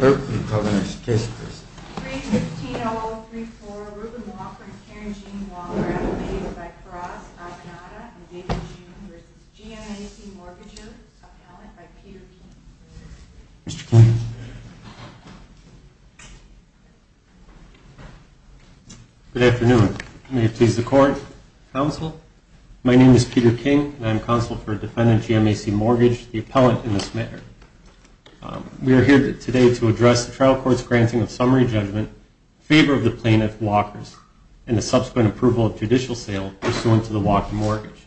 315-0034, Reuben Walker and Karen Jean Wall are appellated by Karras, Abinata, and David June v. GMAC Mortgages, appellant by Peter King. Mr. King. Good afternoon. May it please the Court, Counsel. My name is Peter King, and I'm counsel for defendant GMAC Mortgage, the appellant in this matter. We are here today to address the trial court's granting of summary judgment in favor of the plaintiff, Walkers, and the subsequent approval of judicial sale pursuant to the Walker mortgage.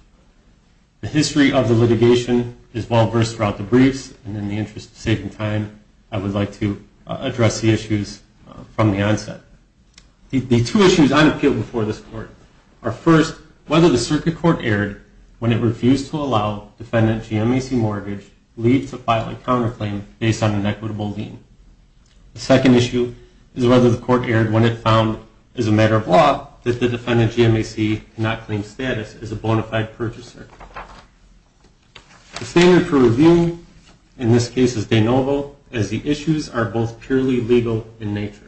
The history of the litigation is well-versed throughout the briefs, and in the interest of saving time, I would like to address the issues from the onset. The two issues I appeal before this Court are, first, whether the circuit court erred when it refused to allow defendant GMAC Mortgage leave to file a counterclaim based on an equitable lien. The second issue is whether the Court erred when it found, as a matter of law, that the defendant GMAC cannot claim status as a bona fide purchaser. The standard for review in this case is de novo, as the issues are both purely legal in nature.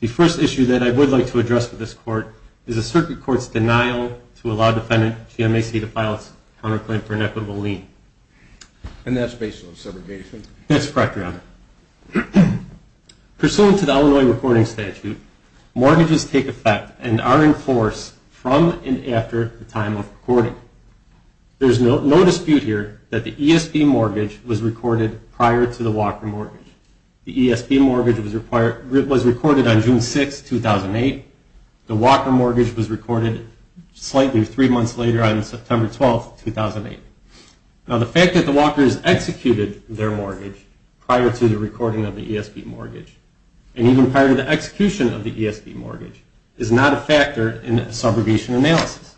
The first issue that I would like to address with this Court is the circuit court's denial to allow defendant GMAC to file its counterclaim for an equitable lien. And that's based on segregation? That's correct, Your Honor. Pursuant to the Illinois recording statute, mortgages take effect and are in force from and after the time of recording. There is no dispute here that the ESP mortgage was recorded prior to the Walker mortgage. The ESP mortgage was recorded on June 6, 2008. The Walker mortgage was recorded slightly three months later on September 12, 2008. Now, the fact that the Walkers executed their mortgage prior to the recording of the ESP mortgage, and even prior to the execution of the ESP mortgage, is not a factor in the subrogation analysis.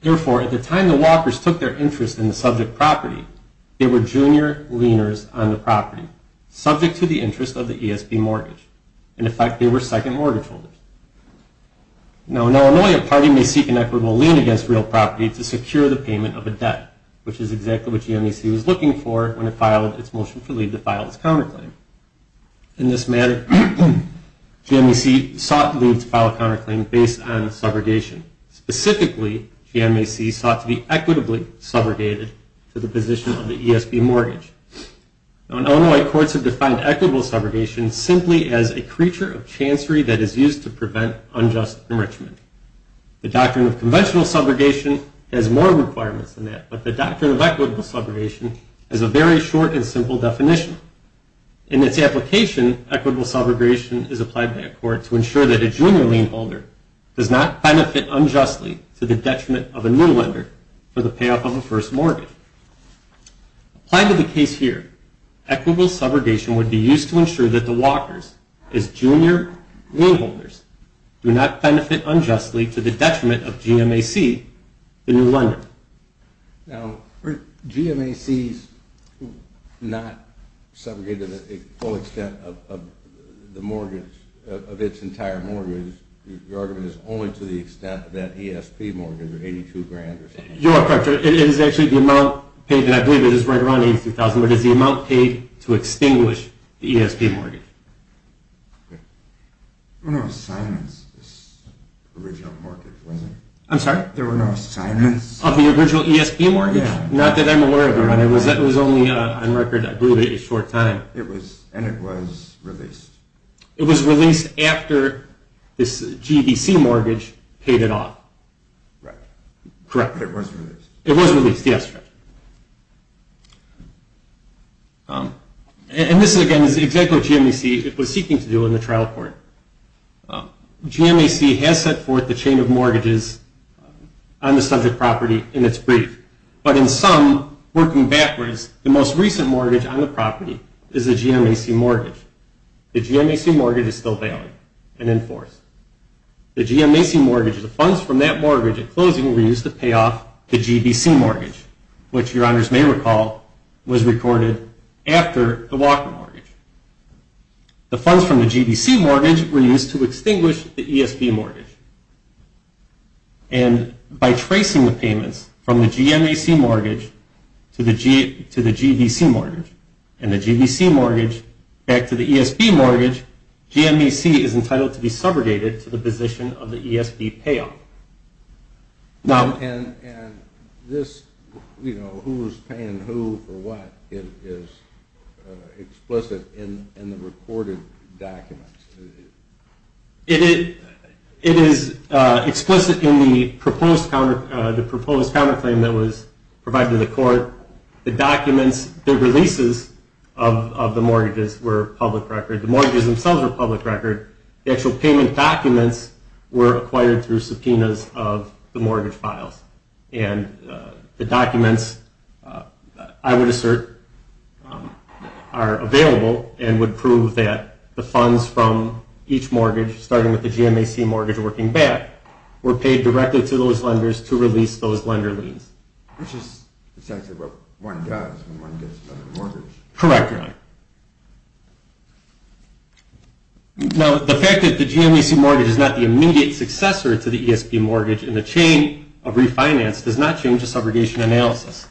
Therefore, at the time the Walkers took their interest in the subject property, they were junior lieners on the property, subject to the interest of the ESP mortgage. In effect, they were second mortgage holders. Now, in Illinois, a party may seek an equitable lien against real property to secure the payment of a debt, which is exactly what GMAC was looking for when it filed its motion to file its counterclaim. In this matter, GMAC sought to file a counterclaim based on subrogation. Specifically, GMAC sought to be equitably subrogated to the position of the ESP mortgage. Now, in Illinois, courts have defined equitable subrogation simply as a creature of chancery that is used to prevent unjust enrichment. The doctrine of conventional subrogation has more requirements than that, but the doctrine of equitable subrogation has a very short and simple definition. In its application, equitable subrogation is applied by a court to ensure that a junior lien holder does not benefit unjustly to the detriment of a new lender for the payoff of a first mortgage. Applied to the case here, equitable subrogation would be used to ensure that the Walkers, as junior lien holders, do not benefit unjustly to the detriment of GMAC, the new lender. Now, GMAC's not subrogated to the full extent of the mortgage, of its entire mortgage. Your argument is only to the extent of that ESP mortgage of $82,000 or something. You are correct. It is actually the amount paid, and I believe it is right around $83,000, but it is the amount paid to extinguish the ESP mortgage. There were no assignments in this original mortgage, were there? I'm sorry? There were no assignments. Of the original ESP mortgage? Not that I'm aware of. It was only on record, I believe, a short time. And it was released. It was released after this GDC mortgage paid it off. Right. Correct. It was released. It was released, yes. And this, again, is exactly what GMAC was seeking to do in the trial court. GMAC has set forth the chain of mortgages on the subject property in its brief. But in sum, working backwards, the most recent mortgage on the property is a GMAC mortgage. The GMAC mortgage is still valid and in force. The GMAC mortgage, the funds from that mortgage at closing were used to pay off the GDC mortgage, which, your honors may recall, was recorded after the Walker mortgage. The funds from the GDC mortgage were used to extinguish the ESP mortgage. And by tracing the payments from the GMAC mortgage to the GDC mortgage, and the GDC mortgage back to the ESP mortgage, GMAC is entitled to be subrogated to the position of the ESP payoff. Now. And this, you know, who's paying who for what is explicit in the recorded documents. It is explicit in the proposed counterclaim that was provided to the court. The documents, the releases of the mortgages were public record. The mortgages themselves were public record. The actual payment documents were acquired through subpoenas of the mortgage files. And the documents, I would assert, are available and would prove that the funds from each mortgage, starting with the GMAC mortgage working back, were paid directly to those lenders to release those lender liens. Which is exactly what one does when one gets another mortgage. Correct, your honor. Now, the fact that the GMAC mortgage is not the immediate successor to the ESP mortgage in the chain of refinance does not change the subrogation analysis.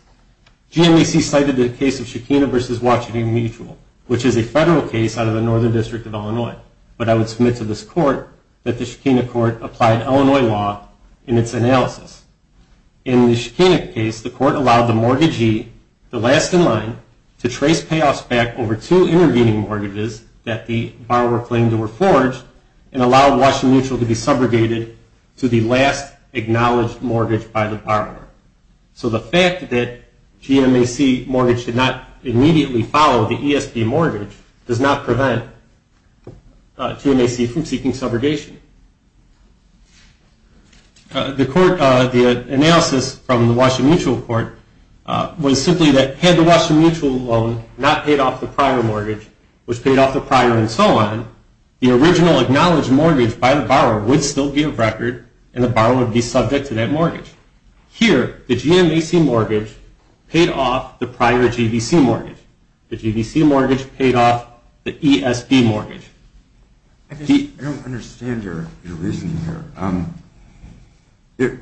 GMAC cited the case of Shekinah v. Washington Mutual, which is a federal case out of the Northern District of Illinois. But I would submit to this court that the Shekinah court applied Illinois law in its analysis. In the Shekinah case, the court allowed the mortgagee, the last in line, to trace payoffs back over two intervening mortgages that the borrower claimed were forged and allow Washington Mutual to be subrogated to the last acknowledged mortgage by the borrower. So the fact that the GMAC mortgage did not immediately follow the ESP mortgage does not prevent GMAC from seeking subrogation. The analysis from the Washington Mutual court was simply that had the Washington Mutual loan not paid off the prior mortgage, which paid off the prior and so on, the original acknowledged mortgage by the borrower would still be of record and the borrower would be subject to that mortgage. Here, the GMAC mortgage paid off the prior GVC mortgage. The GVC mortgage paid off the ESP mortgage. I don't understand your reasoning here.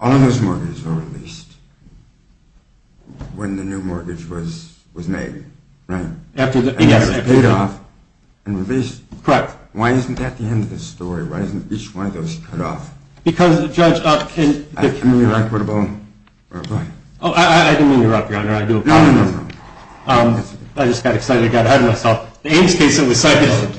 All of those mortgages were released when the new mortgage was made, right? After the ESP. It paid off and released. Correct. Why isn't that the end of the story? Why isn't each one of those cut off? Because, Judge, can... Can we be equitable or what? Oh, I didn't mean to interrupt, Your Honor. I do apologize. No, no, no, no. I just got excited. I got ahead of myself. The Ames case that was cited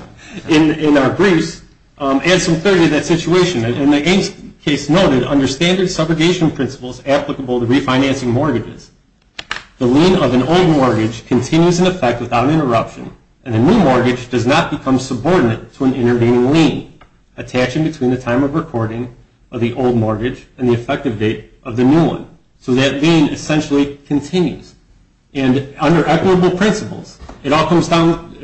in our briefs adds some clarity to that situation. In the Ames case noted, under standard subrogation principles applicable to refinancing mortgages, the lien of an old mortgage continues in effect without interruption and a new mortgage does not become subordinate to an intervening lien attaching between the time of recording of the old mortgage and the effective date of the new one. So that lien essentially continues. And under equitable principles, it all comes down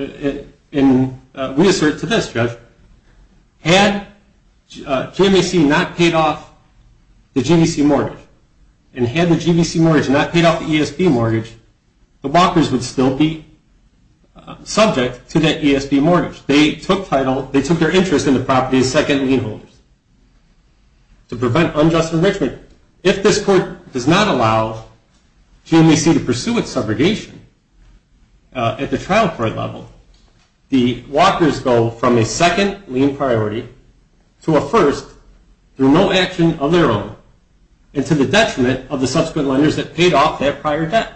in reassert to this, Judge. Had GMAC not paid off the GVC mortgage and had the GVC mortgage not paid off the ESP mortgage, the walkers would still be subject to that ESP mortgage. They took title... They took their interest in the property as second lien holders to prevent unjust enrichment. If this court does not allow GMAC to pursue its subrogation at the trial court level, the walkers go from a second lien priority to a first through no action of their own and to the detriment of the subsequent lenders that paid off that prior debt.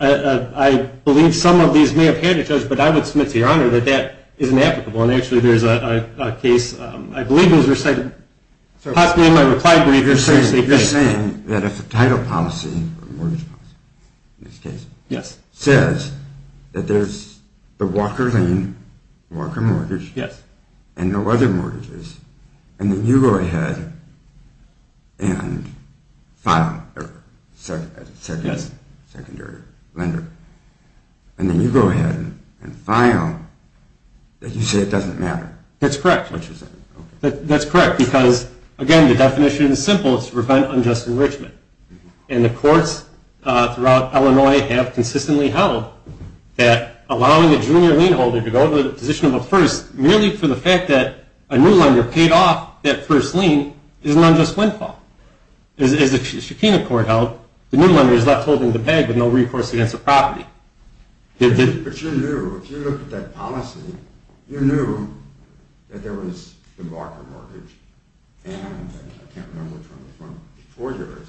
I believe some of these may have had it, Judge, but I would submit to Your Honor that that is inapplicable. And actually, there's a case... I believe it was recited... Possibly in my reply brief. You're saying that if the title policy, or mortgage policy in this case, says that there's the walker lien, walker mortgage, and no other mortgages, and then you go ahead and file as a secondary lender, and then you go ahead and file, that you say it doesn't matter? That's correct. That's correct, because, again, the definition is simple. It's to prevent unjust enrichment. And the courts throughout Illinois have consistently held that allowing a junior lien holder to go to the position of a first merely for the fact that a new lender paid off that first lien is an unjust windfall. As the Shekinah Court held, the new lender is left holding the bag with no recourse against the property. But you knew, if you looked at that policy, you knew that there was the walker mortgage, and I can't remember which one was before yours,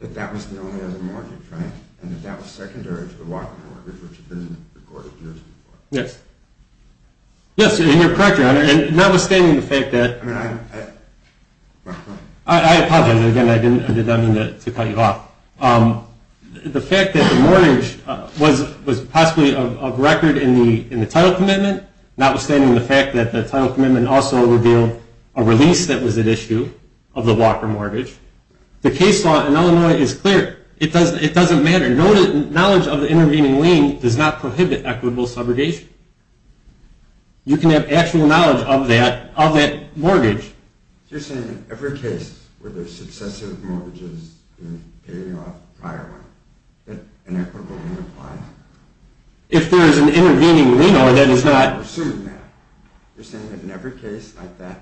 that that was the only other mortgage, right? And that that was secondary to the walker mortgage, which had been recorded years before. Yes. Yes, and you're correct, Your Honor. Notwithstanding the fact that... I mean, I... I apologize. Again, I did not mean to cut you off. The fact that the mortgage was possibly of record in the title commitment, notwithstanding the fact that the title commitment also revealed a release that was at issue of the walker mortgage, the case law in Illinois is clear. It doesn't matter. Knowledge of the intervening lien does not prohibit equitable subrogation. You can have actual knowledge of that mortgage. You're saying in every case where there's successive mortgages being paid off prior one, that an equitable lien applies? If there is an intervening lien, Your Honor, that is not... I'm assuming that. You're saying that in every case like that,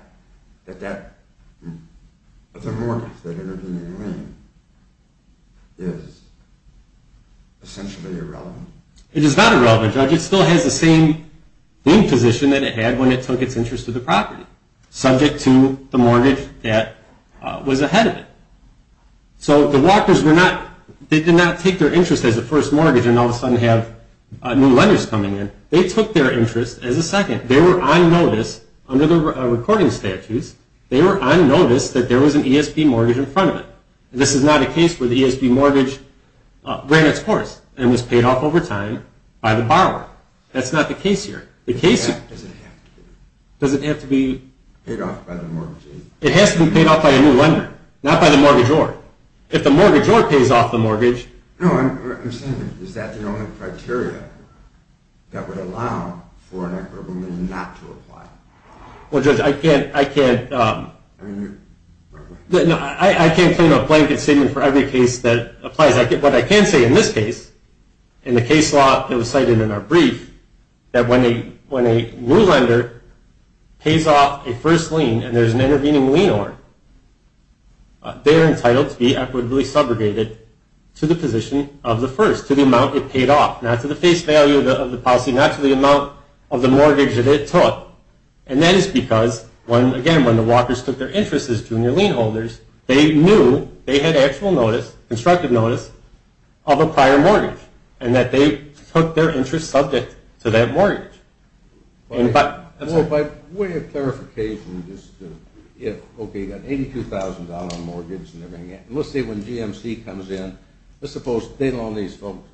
that that other mortgage, that intervening lien, is essentially irrelevant? It is not irrelevant, Judge. It still has the same lien position that it had when it took its interest to the property, subject to the mortgage that was ahead of it. So the walkers did not take their interest as a first mortgage and all of a sudden have new lenders coming in. They took their interest as a second. They were on notice under the recording statutes. They were on notice that there was an ESB mortgage in front of them. This is not a case where the ESB mortgage ran its course and was paid off over time by the borrower. That's not the case here. Does it have to be paid off by the mortgage? It has to be paid off by a new lender, not by the mortgagor. If the mortgagor pays off the mortgage... No, I'm saying is that the only criteria that would allow for an equitable lien not to apply? Well, Judge, I can't... I mean... I can't claim a blanket statement for every case that applies. What I can say in this case, in the case law that was cited in our brief, that when a new lender pays off a first lien and there's an intervening lien order, they are entitled to be equitably subrogated to the position of the first, to the amount it paid off, not to the face value of the policy, not to the amount of the mortgage that it took. And that is because, again, when the walkers took their interest as junior lien holders, they knew they had actual notice, constructive notice, of a prior mortgage and that they took their interest subject to that mortgage. Well, by way of clarification, just to... Okay, you've got $82,000 in mortgage and everything. Let's say when GMC comes in, let's suppose they loan these folks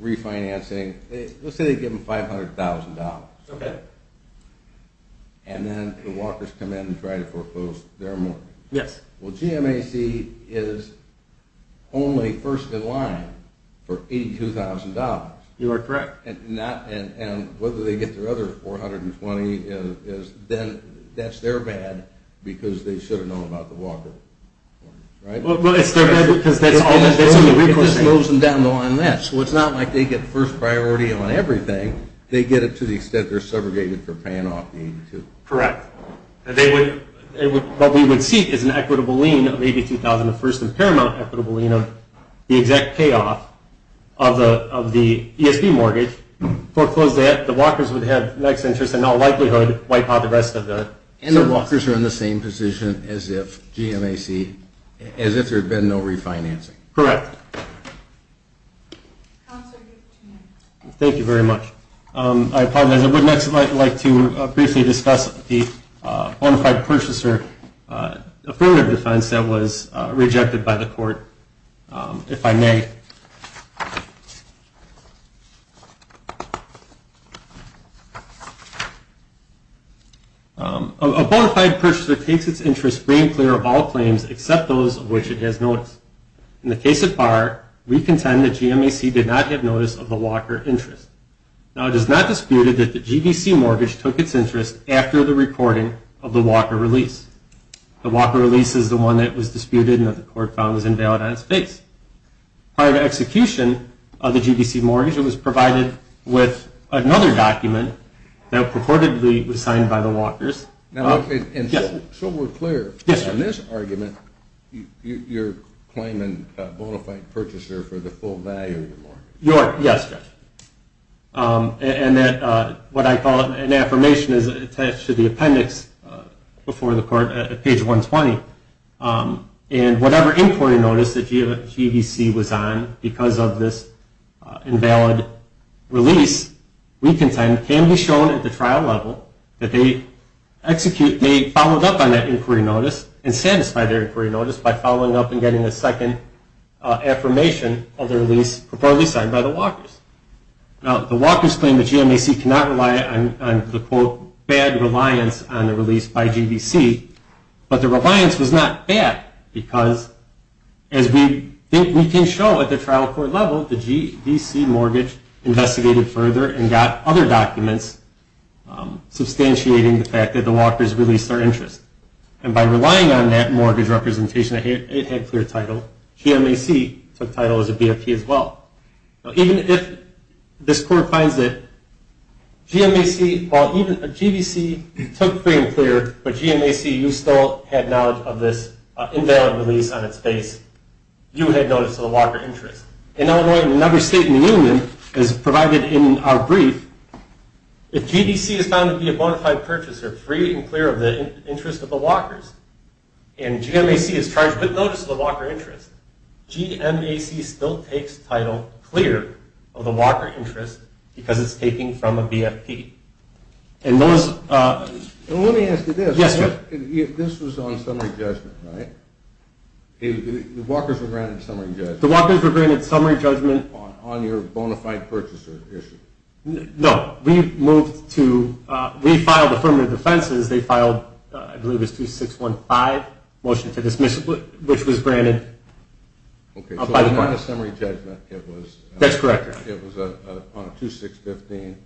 refinancing. Let's say they give them $500,000. Okay. And then the walkers come in and try to foreclose their mortgage. Yes. Well, GMAC is only first in line for $82,000. You are correct. And whether they get their other $420,000, then that's their bad because they should have known about the walker. Right? Well, it's their bad because that's all they're doing. It just slows them down more than that. So it's not like they get first priority on everything. They get it to the extent they're subrogated for paying off the $82,000. Correct. What we would seek is an equitable lien of $82,000, a first and paramount equitable lien of the exact payoff of the ESB mortgage, foreclose that, the walkers would have the next interest and in all likelihood wipe out the rest of the... And the walkers are in the same position as if GMAC, as if there had been no refinancing. Correct. Thank you very much. I apologize. I would next like to briefly discuss the bona fide purchaser affirmative defense that was rejected by the court, if I may. A bona fide purchaser takes its interest free and clear of all claims, except those of which it has notice. In the case of Barr, we contend that GMAC did not have notice of the walker interest. Now, it is not disputed that the GBC mortgage took its interest after the recording of the walker release. The walker release is the one that was disputed and that the court found was invalid on its face. Prior to execution of the GBC mortgage, it was provided with another document that purportedly was signed by the walkers. And so we're clear, in this argument, and that what I call an affirmation is attached to the appendix before the court at page 120. And whatever inquiry notice that GBC was on because of this invalid release, we contend can be shown at the trial level that they followed up on that inquiry notice and satisfied their inquiry notice by following up and getting a second affirmation of the release purportedly signed by the walkers. Now, the walkers claim that GMAC cannot rely on the, quote, bad reliance on the release by GBC. But the reliance was not bad because, as we can show at the trial court level, the GBC mortgage investigated further and got other documents substantiating the fact that the walkers released their interest. And by relying on that mortgage representation, it had clear title. GMAC took title as a BFP as well. Now, even if this court finds that GMAC, well, even GBC took free and clear, but GMAC, you still had knowledge of this invalid release on its face, you had notice of the walker interest. In Illinois, in another state in the union, as provided in our brief, if GBC is found to be a bona fide purchaser, free and clear of the interest of the walkers, and GMAC is charged with notice of the walker interest, GMAC still takes title clear of the walker interest because it's taking from a BFP. And those... Well, let me ask you this. Yes, sir. This was on summary judgment, right? The walkers were granted summary judgment. The walkers were granted summary judgment. On your bona fide purchaser issue. No. We moved to... We filed affirmative defenses. They filed, I believe it was 2615, motion to dismiss, which was granted. Okay. So it was not a summary judgment. It was... That's correct. It was on a 2615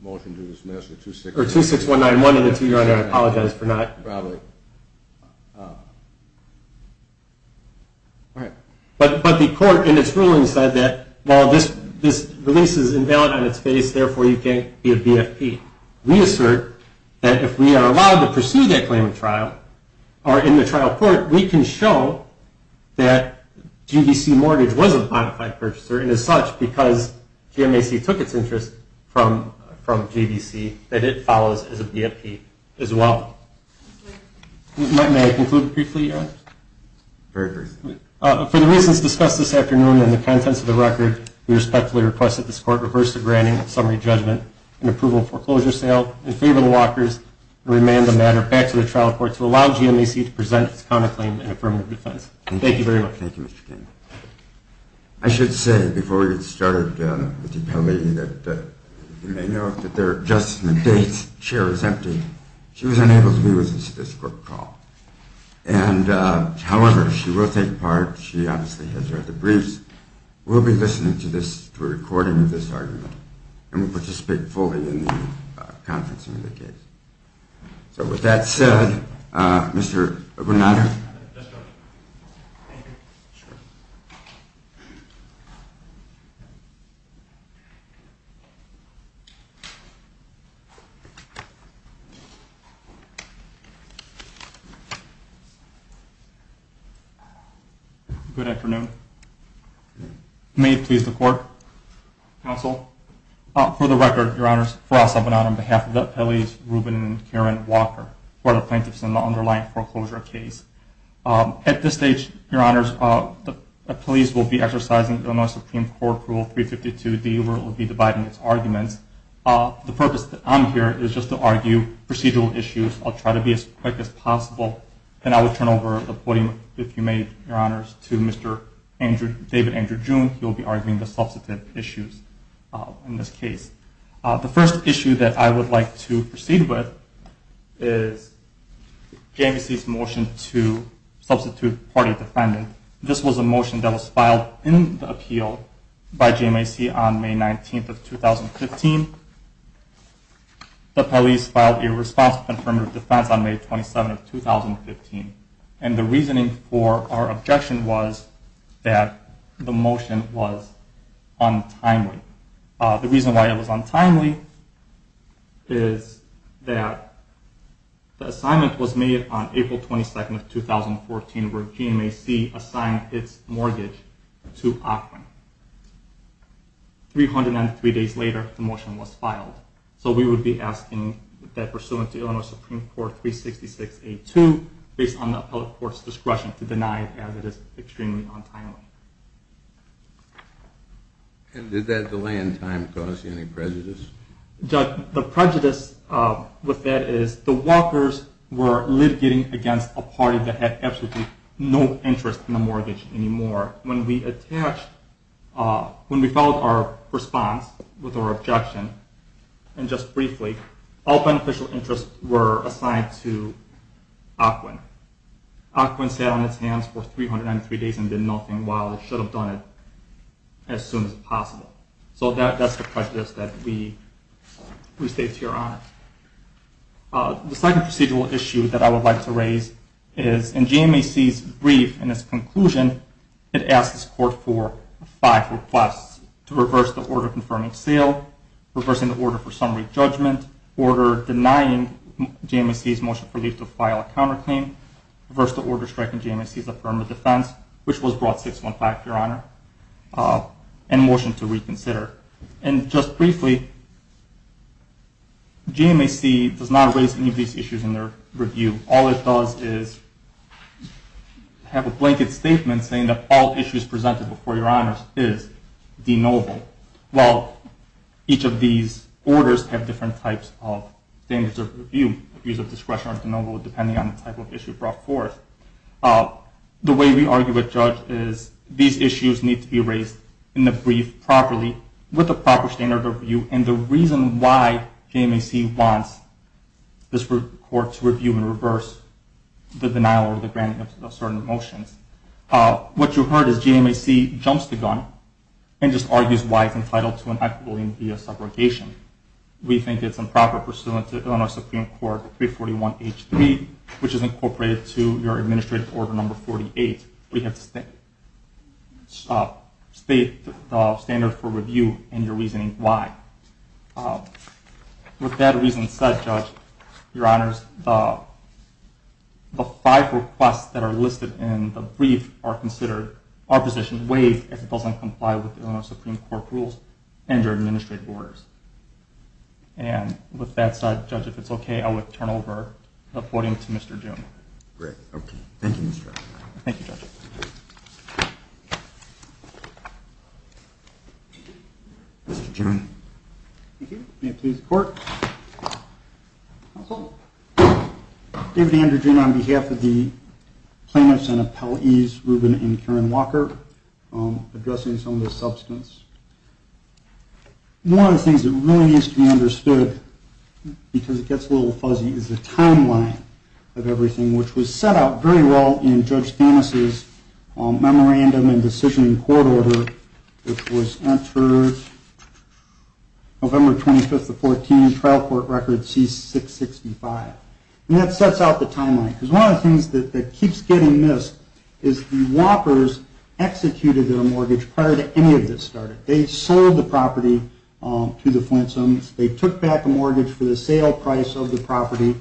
motion to dismiss, or 26... Or 26191, and I apologize for not... Probably. All right. But the court in its ruling said that while this release is invalid on its face, therefore you can't be a BFP. We assert that if we are allowed to pursue that claim in trial, or in the trial court, we can show that GBC mortgage was a bona fide purchaser, and as such, because GMAC took its interest from GBC, that it follows as a BFP as well. May I conclude briefly? Very briefly. For the reasons discussed this afternoon and the contents of the record, we respectfully request that this court reverse the granting of summary judgment and approval of foreclosure sale in favor of the walkers, and remand the matter back to the trial court to allow GMAC to present its counterclaim in affirmative defense. Thank you very much. Thank you, Mr. King. I should say, before we get started, Mr. Kelly, that you may know that there are adjustment dates. Chair is empty. She was unable to be with us at this court call. However, she will take part. She obviously has read the briefs. We'll be listening to a recording of this argument, and will participate fully in the conferencing of the case. So with that said, Mr. Bernardo. Good afternoon. May it please the court. Counsel. For the record, Your Honors, for us of an honor on behalf of the appellees, Ruben and Karen Walker, who are the plaintiffs in the underlying foreclosure case. At this stage, Your Honors, the police will be exercising Illinois Supreme Court Rule 352D, where it will be dividing its arguments. The purpose that I'm here is just to argue procedural issues. I'll try to be as quick as possible. And I will turn over the podium, if you may, Your Honors, to Mr. David Andrew June. He will be arguing the substantive issues in this case. The first issue that I would like to proceed with is JMAC's motion to substitute party defendant. This was a motion that was filed in the appeal by JMAC on May 19th of 2015. The appellees filed a response to the affirmative defense on May 27th of 2015. And the reasoning for our objection was that the motion was untimely. The reason why it was untimely is that the assignment was made on April 22nd of 2014, where JMAC assigned its mortgage to Auckland. 393 days later, the motion was filed. So we would be asking that pursuant to Illinois Supreme Court 366A2, based on the appellate court's discretion, to deny it as it is extremely untimely. And did that delay in time cause you any prejudice? Judge, the prejudice with that is the walkers were litigating against a party that had absolutely no interest in the mortgage anymore. When we filed our response with our objection, and just briefly, all beneficial interests were assigned to Auckland. Auckland sat on its hands for 393 days and did nothing, while it should have done it as soon as possible. So that's the prejudice that we state to your honor. The second procedural issue that I would like to raise is in JMAC's brief, in its conclusion, it asks this court for five requests. To reverse the order confirming sale, reversing the order for summary judgment, order denying JMAC's motion for leave to file a counterclaim, reverse the order striking JMAC's affirmative defense, which was brought 615, your honor, and motion to reconsider. And just briefly, JMAC does not raise any of these issues in their review. All it does is have a blanket statement saying that all issues presented before your honors is de novo. Well, each of these orders have different types of standards of review, abuse of discretion or de novo, depending on the type of issue brought forth. The way we argue with Judge is these issues need to be raised in the brief properly, with the proper standard of review, and the reason why JMAC wants this court to review and reverse the denial or the granting of certain motions. What you heard is JMAC jumps the gun and just argues why it's entitled to an equitably impeded subrogation. We think it's improper pursuant to Illinois Supreme Court 341H3, which is incorporated to your administrative order number 48. We have to state the standard for review and your reasoning why. With that reason said, Judge, your honors, the five requests that are listed in the brief are considered opposition ways if it doesn't comply with Illinois Supreme Court rules and your administrative orders. And with that said, Judge, if it's okay, I would turn over the podium to Mr. Dunn. Great. Okay. Thank you, Mr. Dunn. Thank you, Judge. Mr. Dunn. Thank you. May it please the Court. Counsel. David Andrew Dunn on behalf of the plaintiffs and appellees, Ruben and Karen Walker, addressing some of the substance. One of the things that really needs to be understood, because it gets a little fuzzy, is the timeline of everything, which was set out very well in Judge Danis' memorandum and decision in court order, which was entered November 25th of 2014, trial court record C665. And that sets out the timeline, because one of the things that keeps getting missed is the Whoppers executed their mortgage prior to any of this started. They sold the property to the Flintstones. They took back a mortgage for the sale price of the property.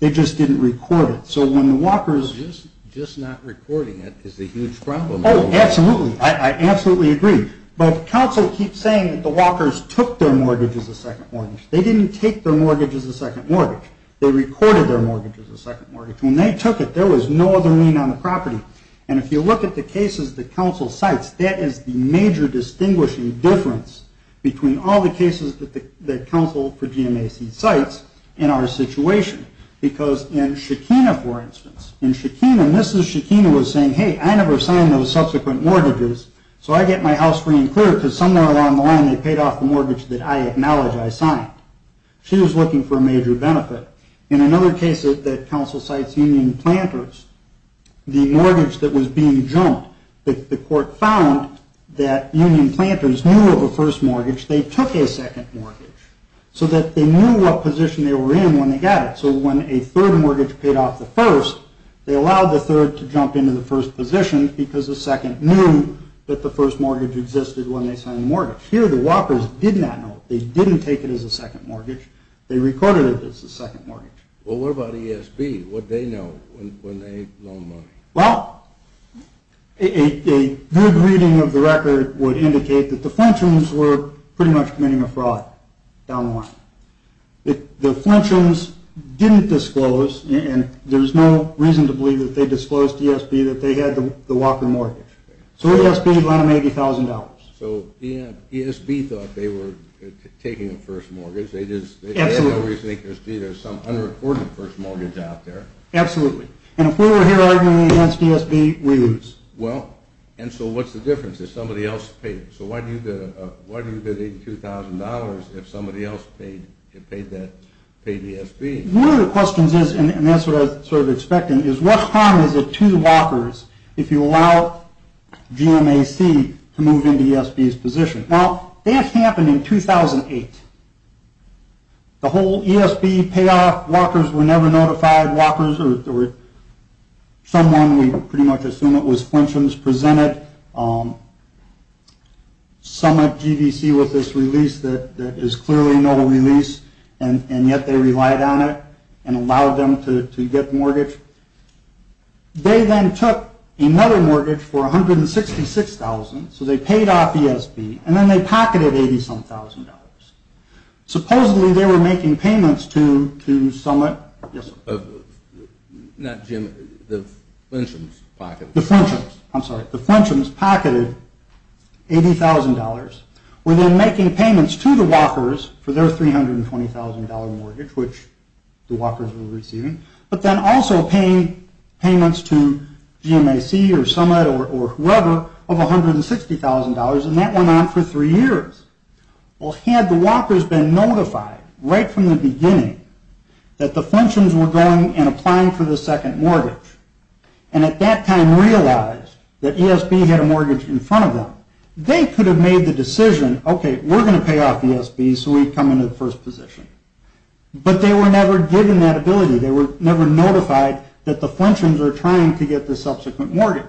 They just didn't record it. So when the Walkers – Just not recording it is a huge problem. Oh, absolutely. I absolutely agree. But counsel keeps saying that the Walkers took their mortgage as a second mortgage. They didn't take their mortgage as a second mortgage. They recorded their mortgage as a second mortgage. When they took it, there was no other lien on the property. And if you look at the cases that counsel cites, that is the major distinguishing difference between all the cases that counsel for GMAC cites in our situation. Because in Shekina, for instance, in Shekina, Mrs. Shekina was saying, hey, I never signed those subsequent mortgages, so I get my house free and clear, because somewhere along the line they paid off the mortgage that I acknowledge I signed. She was looking for a major benefit. In another case that counsel cites, Union Planters, the mortgage that was being jumped, the court found that Union Planters knew of a first mortgage. They took a second mortgage so that they knew what position they were in when they got it. So when a third mortgage paid off the first, they allowed the third to jump into the first position because the second knew that the first mortgage existed when they signed the mortgage. Here the Walkers did not know it. They didn't take it as a second mortgage. They recorded it as a second mortgage. Well, what about ESB? What did they know when they loaned money? Well, a good reading of the record would indicate that the Flintshams were pretty much committing a fraud down the line. The Flintshams didn't disclose, and there's no reason to believe that they disclosed to ESB that they had the Walker mortgage. So ESB lent them $80,000. So ESB thought they were taking a first mortgage. Absolutely. And if we were here arguing against ESB, we lose. Well, and so what's the difference if somebody else paid? So why do you bid $82,000 if somebody else paid ESB? One of the questions is, and that's what I was sort of expecting, is what harm is it to the Walkers if you allow GMAC to move into ESB's position? Now, that happened in 2008. The whole ESB payoff, Walkers were never notified. Walkers, or someone, we pretty much assume it was Flintshams, presented some of GDC with this release that is clearly a no-release, and yet they relied on it and allowed them to get the mortgage. They then took another mortgage for $166,000, so they paid off ESB. And then they pocketed $87,000. Supposedly, they were making payments to Summit. Not GMAC, the Flintshams pocketed. The Flintshams, I'm sorry. The Flintshams pocketed $80,000. Were then making payments to the Walkers for their $320,000 mortgage, which the Walkers were receiving. But then also paying payments to GMAC or Summit or whoever of $160,000. And that went on for three years. Well, had the Walkers been notified right from the beginning that the Flintshams were going and applying for the second mortgage and at that time realized that ESB had a mortgage in front of them, they could have made the decision, okay, we're going to pay off ESB, so we come into the first position. But they were never given that ability. They were never notified that the Flintshams were trying to get the subsequent mortgage.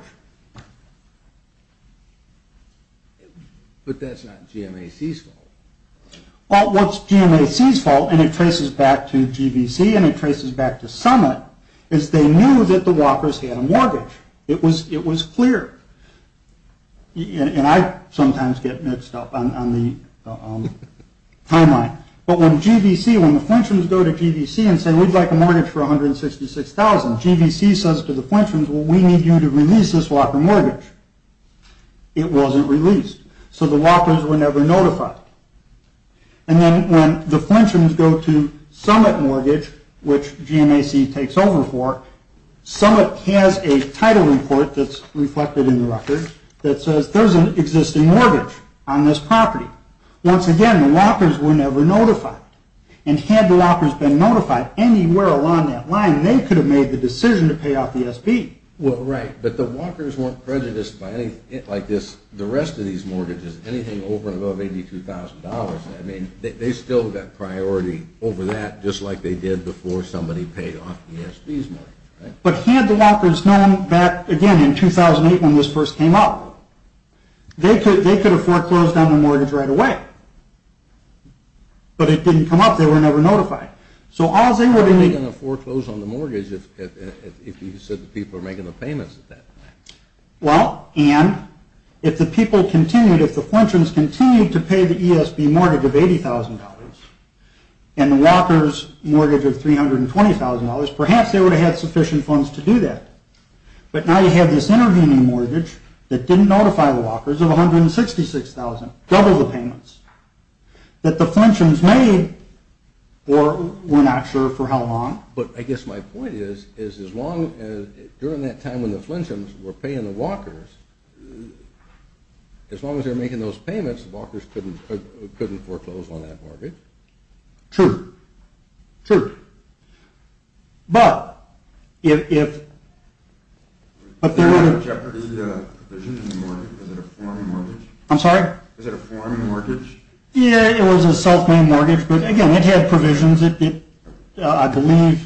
But that's not GMAC's fault. Well, what's GMAC's fault, and it traces back to GBC and it traces back to Summit, is they knew that the Walkers had a mortgage. It was clear. And I sometimes get mixed up on the timeline. But when GBC, when the Flintshams go to GBC and say, we'd like a mortgage for $166,000, GBC says to the Flintshams, well, we need you to release this Walker mortgage. It wasn't released. So the Walkers were never notified. And then when the Flintshams go to Summit Mortgage, which GMAC takes over for, Summit has a title report that's reflected in the record that says, there's an existing mortgage on this property. Once again, the Walkers were never notified. And had the Walkers been notified anywhere along that line, they could have made the decision to pay off the SB. Well, right, but the Walkers weren't prejudiced by anything like this. The rest of these mortgages, anything over and above $82,000, I mean, they still got priority over that, just like they did before somebody paid off the SB's mortgage. But had the Walkers known back, again, in 2008 when this first came up, they could have foreclosed on the mortgage right away. But it didn't come up. They were never notified. So all they would have needed – They wouldn't have foreclosed on the mortgage if you said the people were making the payments at that time. Well, and if the people continued, if the Flintshams continued to pay the ESB mortgage of $80,000 and the Walkers mortgage of $320,000, perhaps they would have had sufficient funds to do that. But now you have this intervening mortgage that didn't notify the Walkers of $166,000, double the payments, that the Flintshams made for we're not sure for how long. But I guess my point is, during that time when the Flintshams were paying the Walkers, as long as they were making those payments, the Walkers couldn't foreclose on that mortgage. True. True. But if – There wasn't a Jeopardy provision in the mortgage. Is it a foreign mortgage? I'm sorry? Is it a foreign mortgage? Yeah, it was a self-made mortgage. But, again, it had provisions. I believe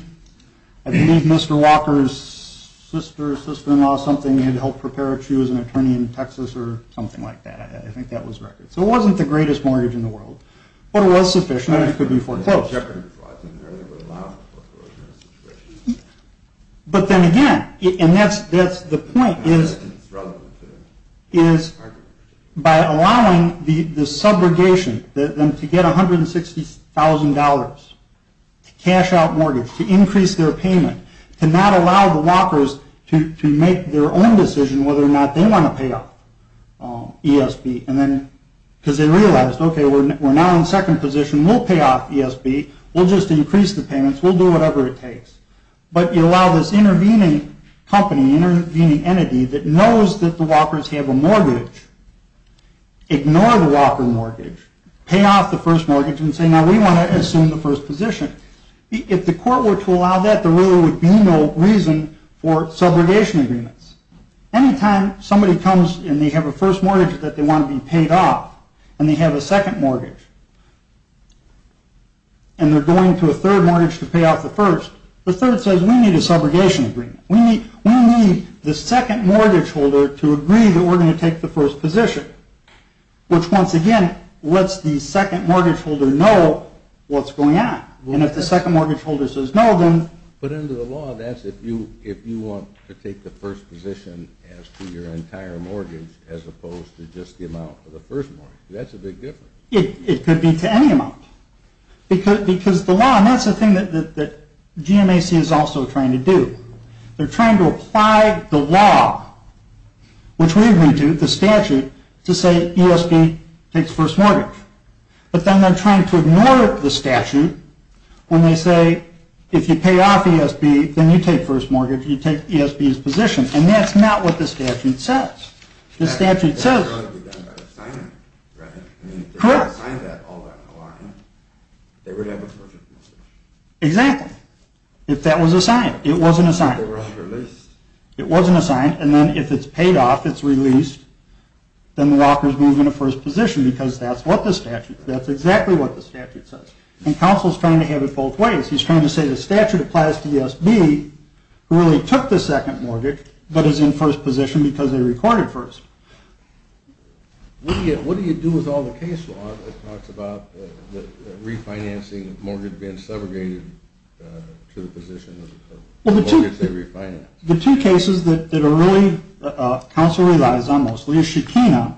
Mr. Walker's sister or sister-in-law, something, had helped prepare it. She was an attorney in Texas or something like that. I think that was record. So it wasn't the greatest mortgage in the world. But it was sufficient. It could be foreclosed. There were a lot of foreclosure situations. But then again, and that's the point, is by allowing the subrogation, to get $160,000 to cash out mortgage, to increase their payment, to not allow the Walkers to make their own decision whether or not they want to pay off ESB, because they realized, okay, we're now in second position, we'll pay off ESB, we'll just increase the payments, we'll do whatever it takes. But you allow this intervening company, intervening entity that knows that the Walkers have a mortgage, ignore the Walker mortgage, pay off the first mortgage and say, now we want to assume the first position. If the court were to allow that, there really would be no reason for subrogation agreements. Anytime somebody comes and they have a first mortgage that they want to be paid off, and they have a second mortgage, and they're going to a third mortgage to pay off the first, the third says, we need a subrogation agreement. We need the second mortgage holder to agree that we're going to take the first position. Which, once again, lets the second mortgage holder know what's going on. And if the second mortgage holder says no, then... But under the law, that's if you want to take the first position as to your entire mortgage, as opposed to just the amount of the first mortgage. That's a big difference. It could be to any amount. Because the law, and that's the thing that GMAC is also trying to do. They're trying to apply the law, which we agree to, the statute, to say ESB takes first mortgage. But then they're trying to ignore the statute when they say, if you pay off ESB, then you take first mortgage, you take ESB's position. And that's not what the statute says. The statute says... That ought to be done by a signer, right? Correct. If they signed that all down the line, they would have a perfect mortgage. Exactly. If that was a sign. It wasn't a sign. They were all released. It wasn't a sign. And then if it's paid off, it's released, then the rockers move into first position, because that's what the statute, that's exactly what the statute says. And counsel's trying to have it both ways. He's trying to say the statute applies to ESB, who really took the second mortgage, but is in first position because they recorded first. What do you do with all the case law that talks about refinancing a mortgage being segregated to the position of a mortgage they refinanced? The two cases that are really counsel relies on mostly is Shekinah.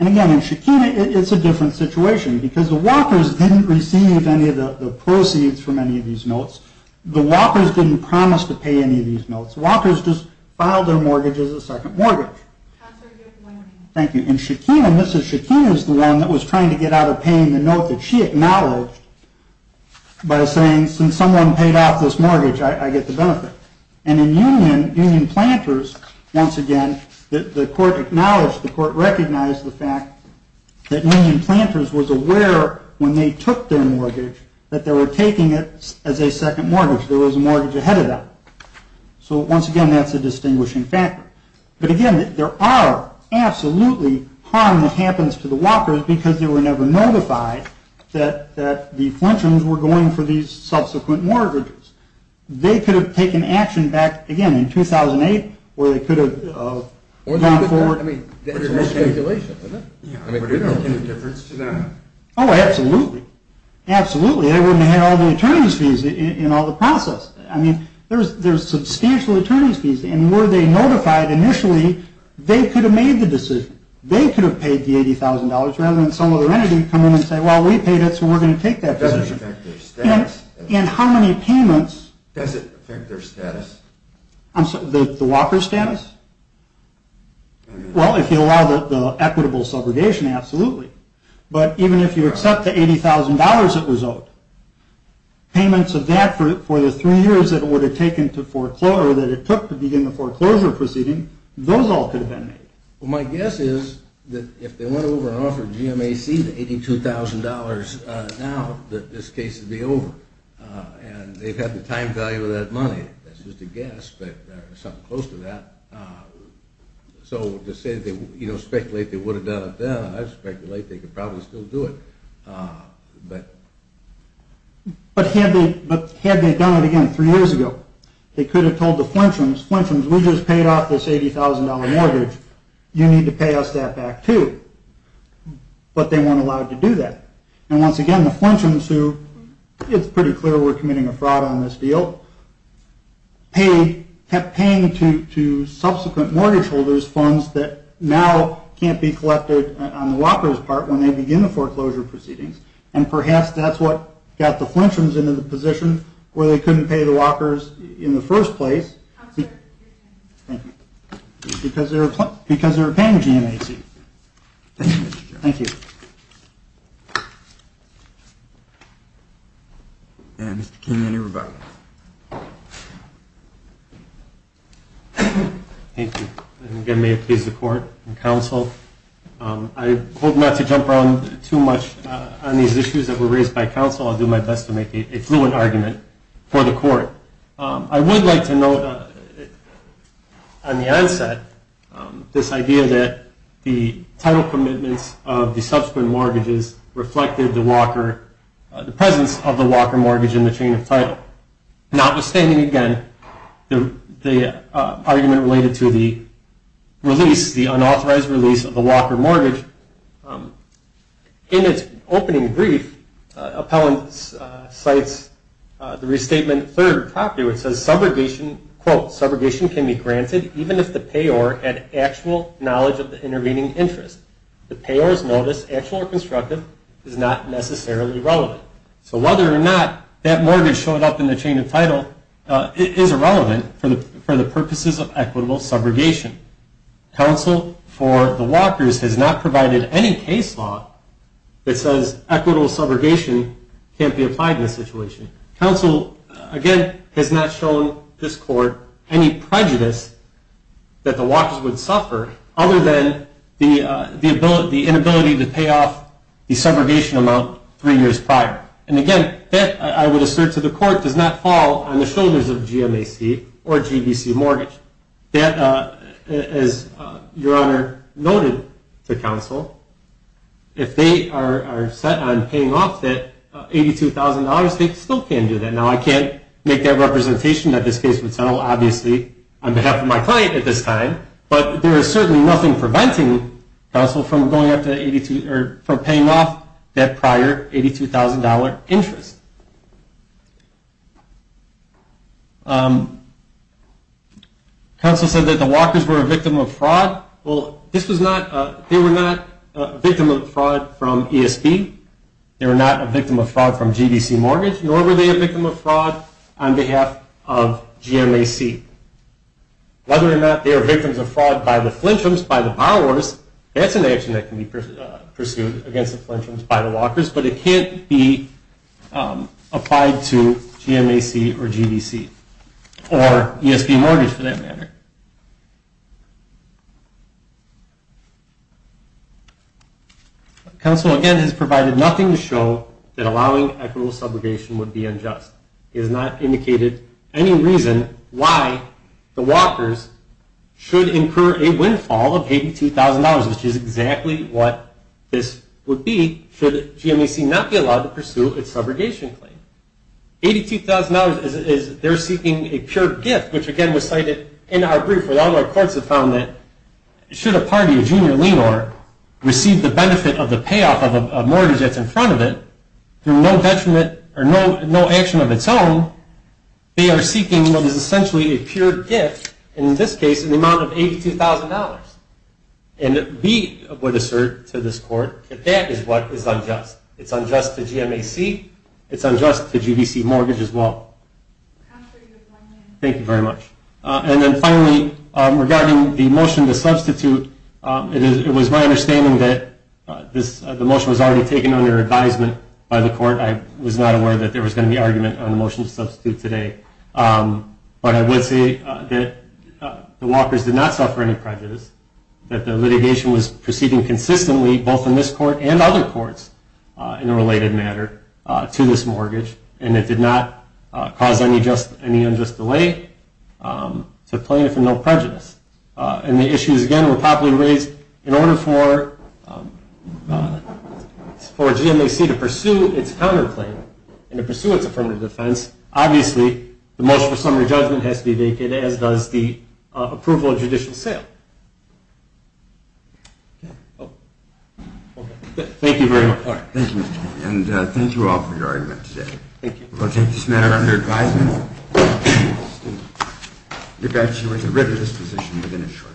And, again, in Shekinah, it's a different situation, because the walkers didn't receive any of the proceeds from any of these notes. The walkers didn't promise to pay any of these notes. The walkers just filed their mortgage as a second mortgage. Counsel, you have one minute. Thank you. In Shekinah, Mrs. Shekinah is the one that was trying to get out of paying the note that she acknowledged by saying, since someone paid off this mortgage, I get the benefit. And in Union, Union Planters, once again, the court acknowledged, the court recognized the fact that Union Planters was aware when they took their mortgage that they were taking it as a second mortgage. There was a mortgage ahead of them. So, once again, that's a distinguishing factor. But, again, there are absolutely harm that happens to the walkers because they were never notified that the Fletchers were going for these subsequent mortgages. They could have taken action back, again, in 2008, where they could have gone forward. I mean, there's no speculation, is there? Yeah. I mean, there's no difference to that. Oh, absolutely. Absolutely. They wouldn't have had all the attorney's fees in all the process. I mean, there's substantial attorney's fees, and were they notified initially, they could have made the decision. They could have paid the $80,000 rather than some other entity come in and say, well, we paid it, so we're going to take that decision. Does it affect their status? And how many payments? Does it affect their status? I'm sorry, the walker's status? Well, if you allow the equitable subrogation, absolutely. But even if you accept the $80,000 that was owed, payments of that for the three years that it would have taken to foreclose or that it took to begin the foreclosure proceeding, those all could have been made. Well, my guess is that if they went over and offered GMAC the $82,000 now, that this case would be over. And they've had the time value of that money. That's just a guess, but there's something close to that. So to speculate they would have done it then, I speculate they could probably still do it. But had they done it again three years ago, they could have told the Flintians, Flintians, we just paid off this $80,000 mortgage. You need to pay us that back too. But they weren't allowed to do that. And once again, the Flintians who, it's pretty clear we're committing a fraud on this deal, kept paying to subsequent mortgage holders funds that now can't be collected on the walkers' part when they begin the foreclosure proceedings. And perhaps that's what got the Flintians into the position where they couldn't pay the walkers in the first place because they were paying GMAC. Thank you. Thank you, Mr. Chairman. Thank you. And Mr. King, any rebuttals? Thank you. And again, may it please the court and counsel, I hope not to jump around too much on these issues that were raised by counsel. I would like to note on the onset this idea that the title commitments of the subsequent mortgages reflected the presence of the walker mortgage in the chain of title. Notwithstanding, again, the argument related to the release, the unauthorized release of the walker mortgage, in its opening brief, appellant cites the restatement third property where it says, quote, Subrogation can be granted even if the payor had actual knowledge of the intervening interest. The payor's notice, actual or constructive, is not necessarily relevant. So whether or not that mortgage showed up in the chain of title is irrelevant for the purposes of equitable subrogation. Counsel, for the walkers, has not provided any case law that says equitable subrogation can't be applied in this situation. Counsel, again, has not shown this court any prejudice that the walkers would suffer, other than the inability to pay off the subrogation amount three years prior. And again, that, I would assert to the court, does not fall on the shoulders of GMAC or GBC mortgage. That, as Your Honor noted to Counsel, if they are set on paying off that $82,000, they still can do that. Now, I can't make that representation that this case would settle, obviously, on behalf of my client at this time, but there is certainly nothing preventing Counsel from going up to 82, or from paying off that prior $82,000 interest. Counsel said that the walkers were a victim of fraud. Well, they were not a victim of fraud from ESB. They were not a victim of fraud from GBC mortgage, nor were they a victim of fraud on behalf of GMAC. Whether or not they are victims of fraud by the flinchums, by the borrowers, that's an action that can be pursued against the flinchums by the walkers, but it can't be applied to GMAC or GBC, or ESB mortgage for that matter. Counsel, again, has provided nothing to show that allowing equitable subrogation would be unjust. He has not indicated any reason why the walkers should incur a windfall of $82,000, which is exactly what this would be should GMAC not be allowed to pursue its subrogation claim. $82,000 is they're seeking a pure gift, which, again, was cited in our brief, and all of our courts have found that should a party, a junior lien owner, receive the benefit of the payoff of a mortgage that's in front of it through no detriment or no action of its own, they are seeking what is essentially a pure gift, and in this case, an amount of $82,000. And we would assert to this court that that is what is unjust. It's unjust to GMAC. It's unjust to GBC mortgage as well. Thank you very much. And then finally, regarding the motion to substitute, it was my understanding that the motion was already taken under advisement by the court. I was not aware that there was going to be argument on the motion to substitute today, but I would say that the Walkers did not suffer any prejudice, that the litigation was proceeding consistently both in this court and other courts in a related matter to this mortgage, and it did not cause any unjust delay to claim it for no prejudice. And the issues, again, were probably raised in order for GMAC to pursue its counterclaim and to pursue its affirmative defense. Obviously, the motion for summary judgment has to be vacant, as does the approval of judicial sale. Okay. Thank you very much. Thank you. And thank you all for your argument today. Thank you. We will take this matter under advisement. We beg you to review this position within a short time.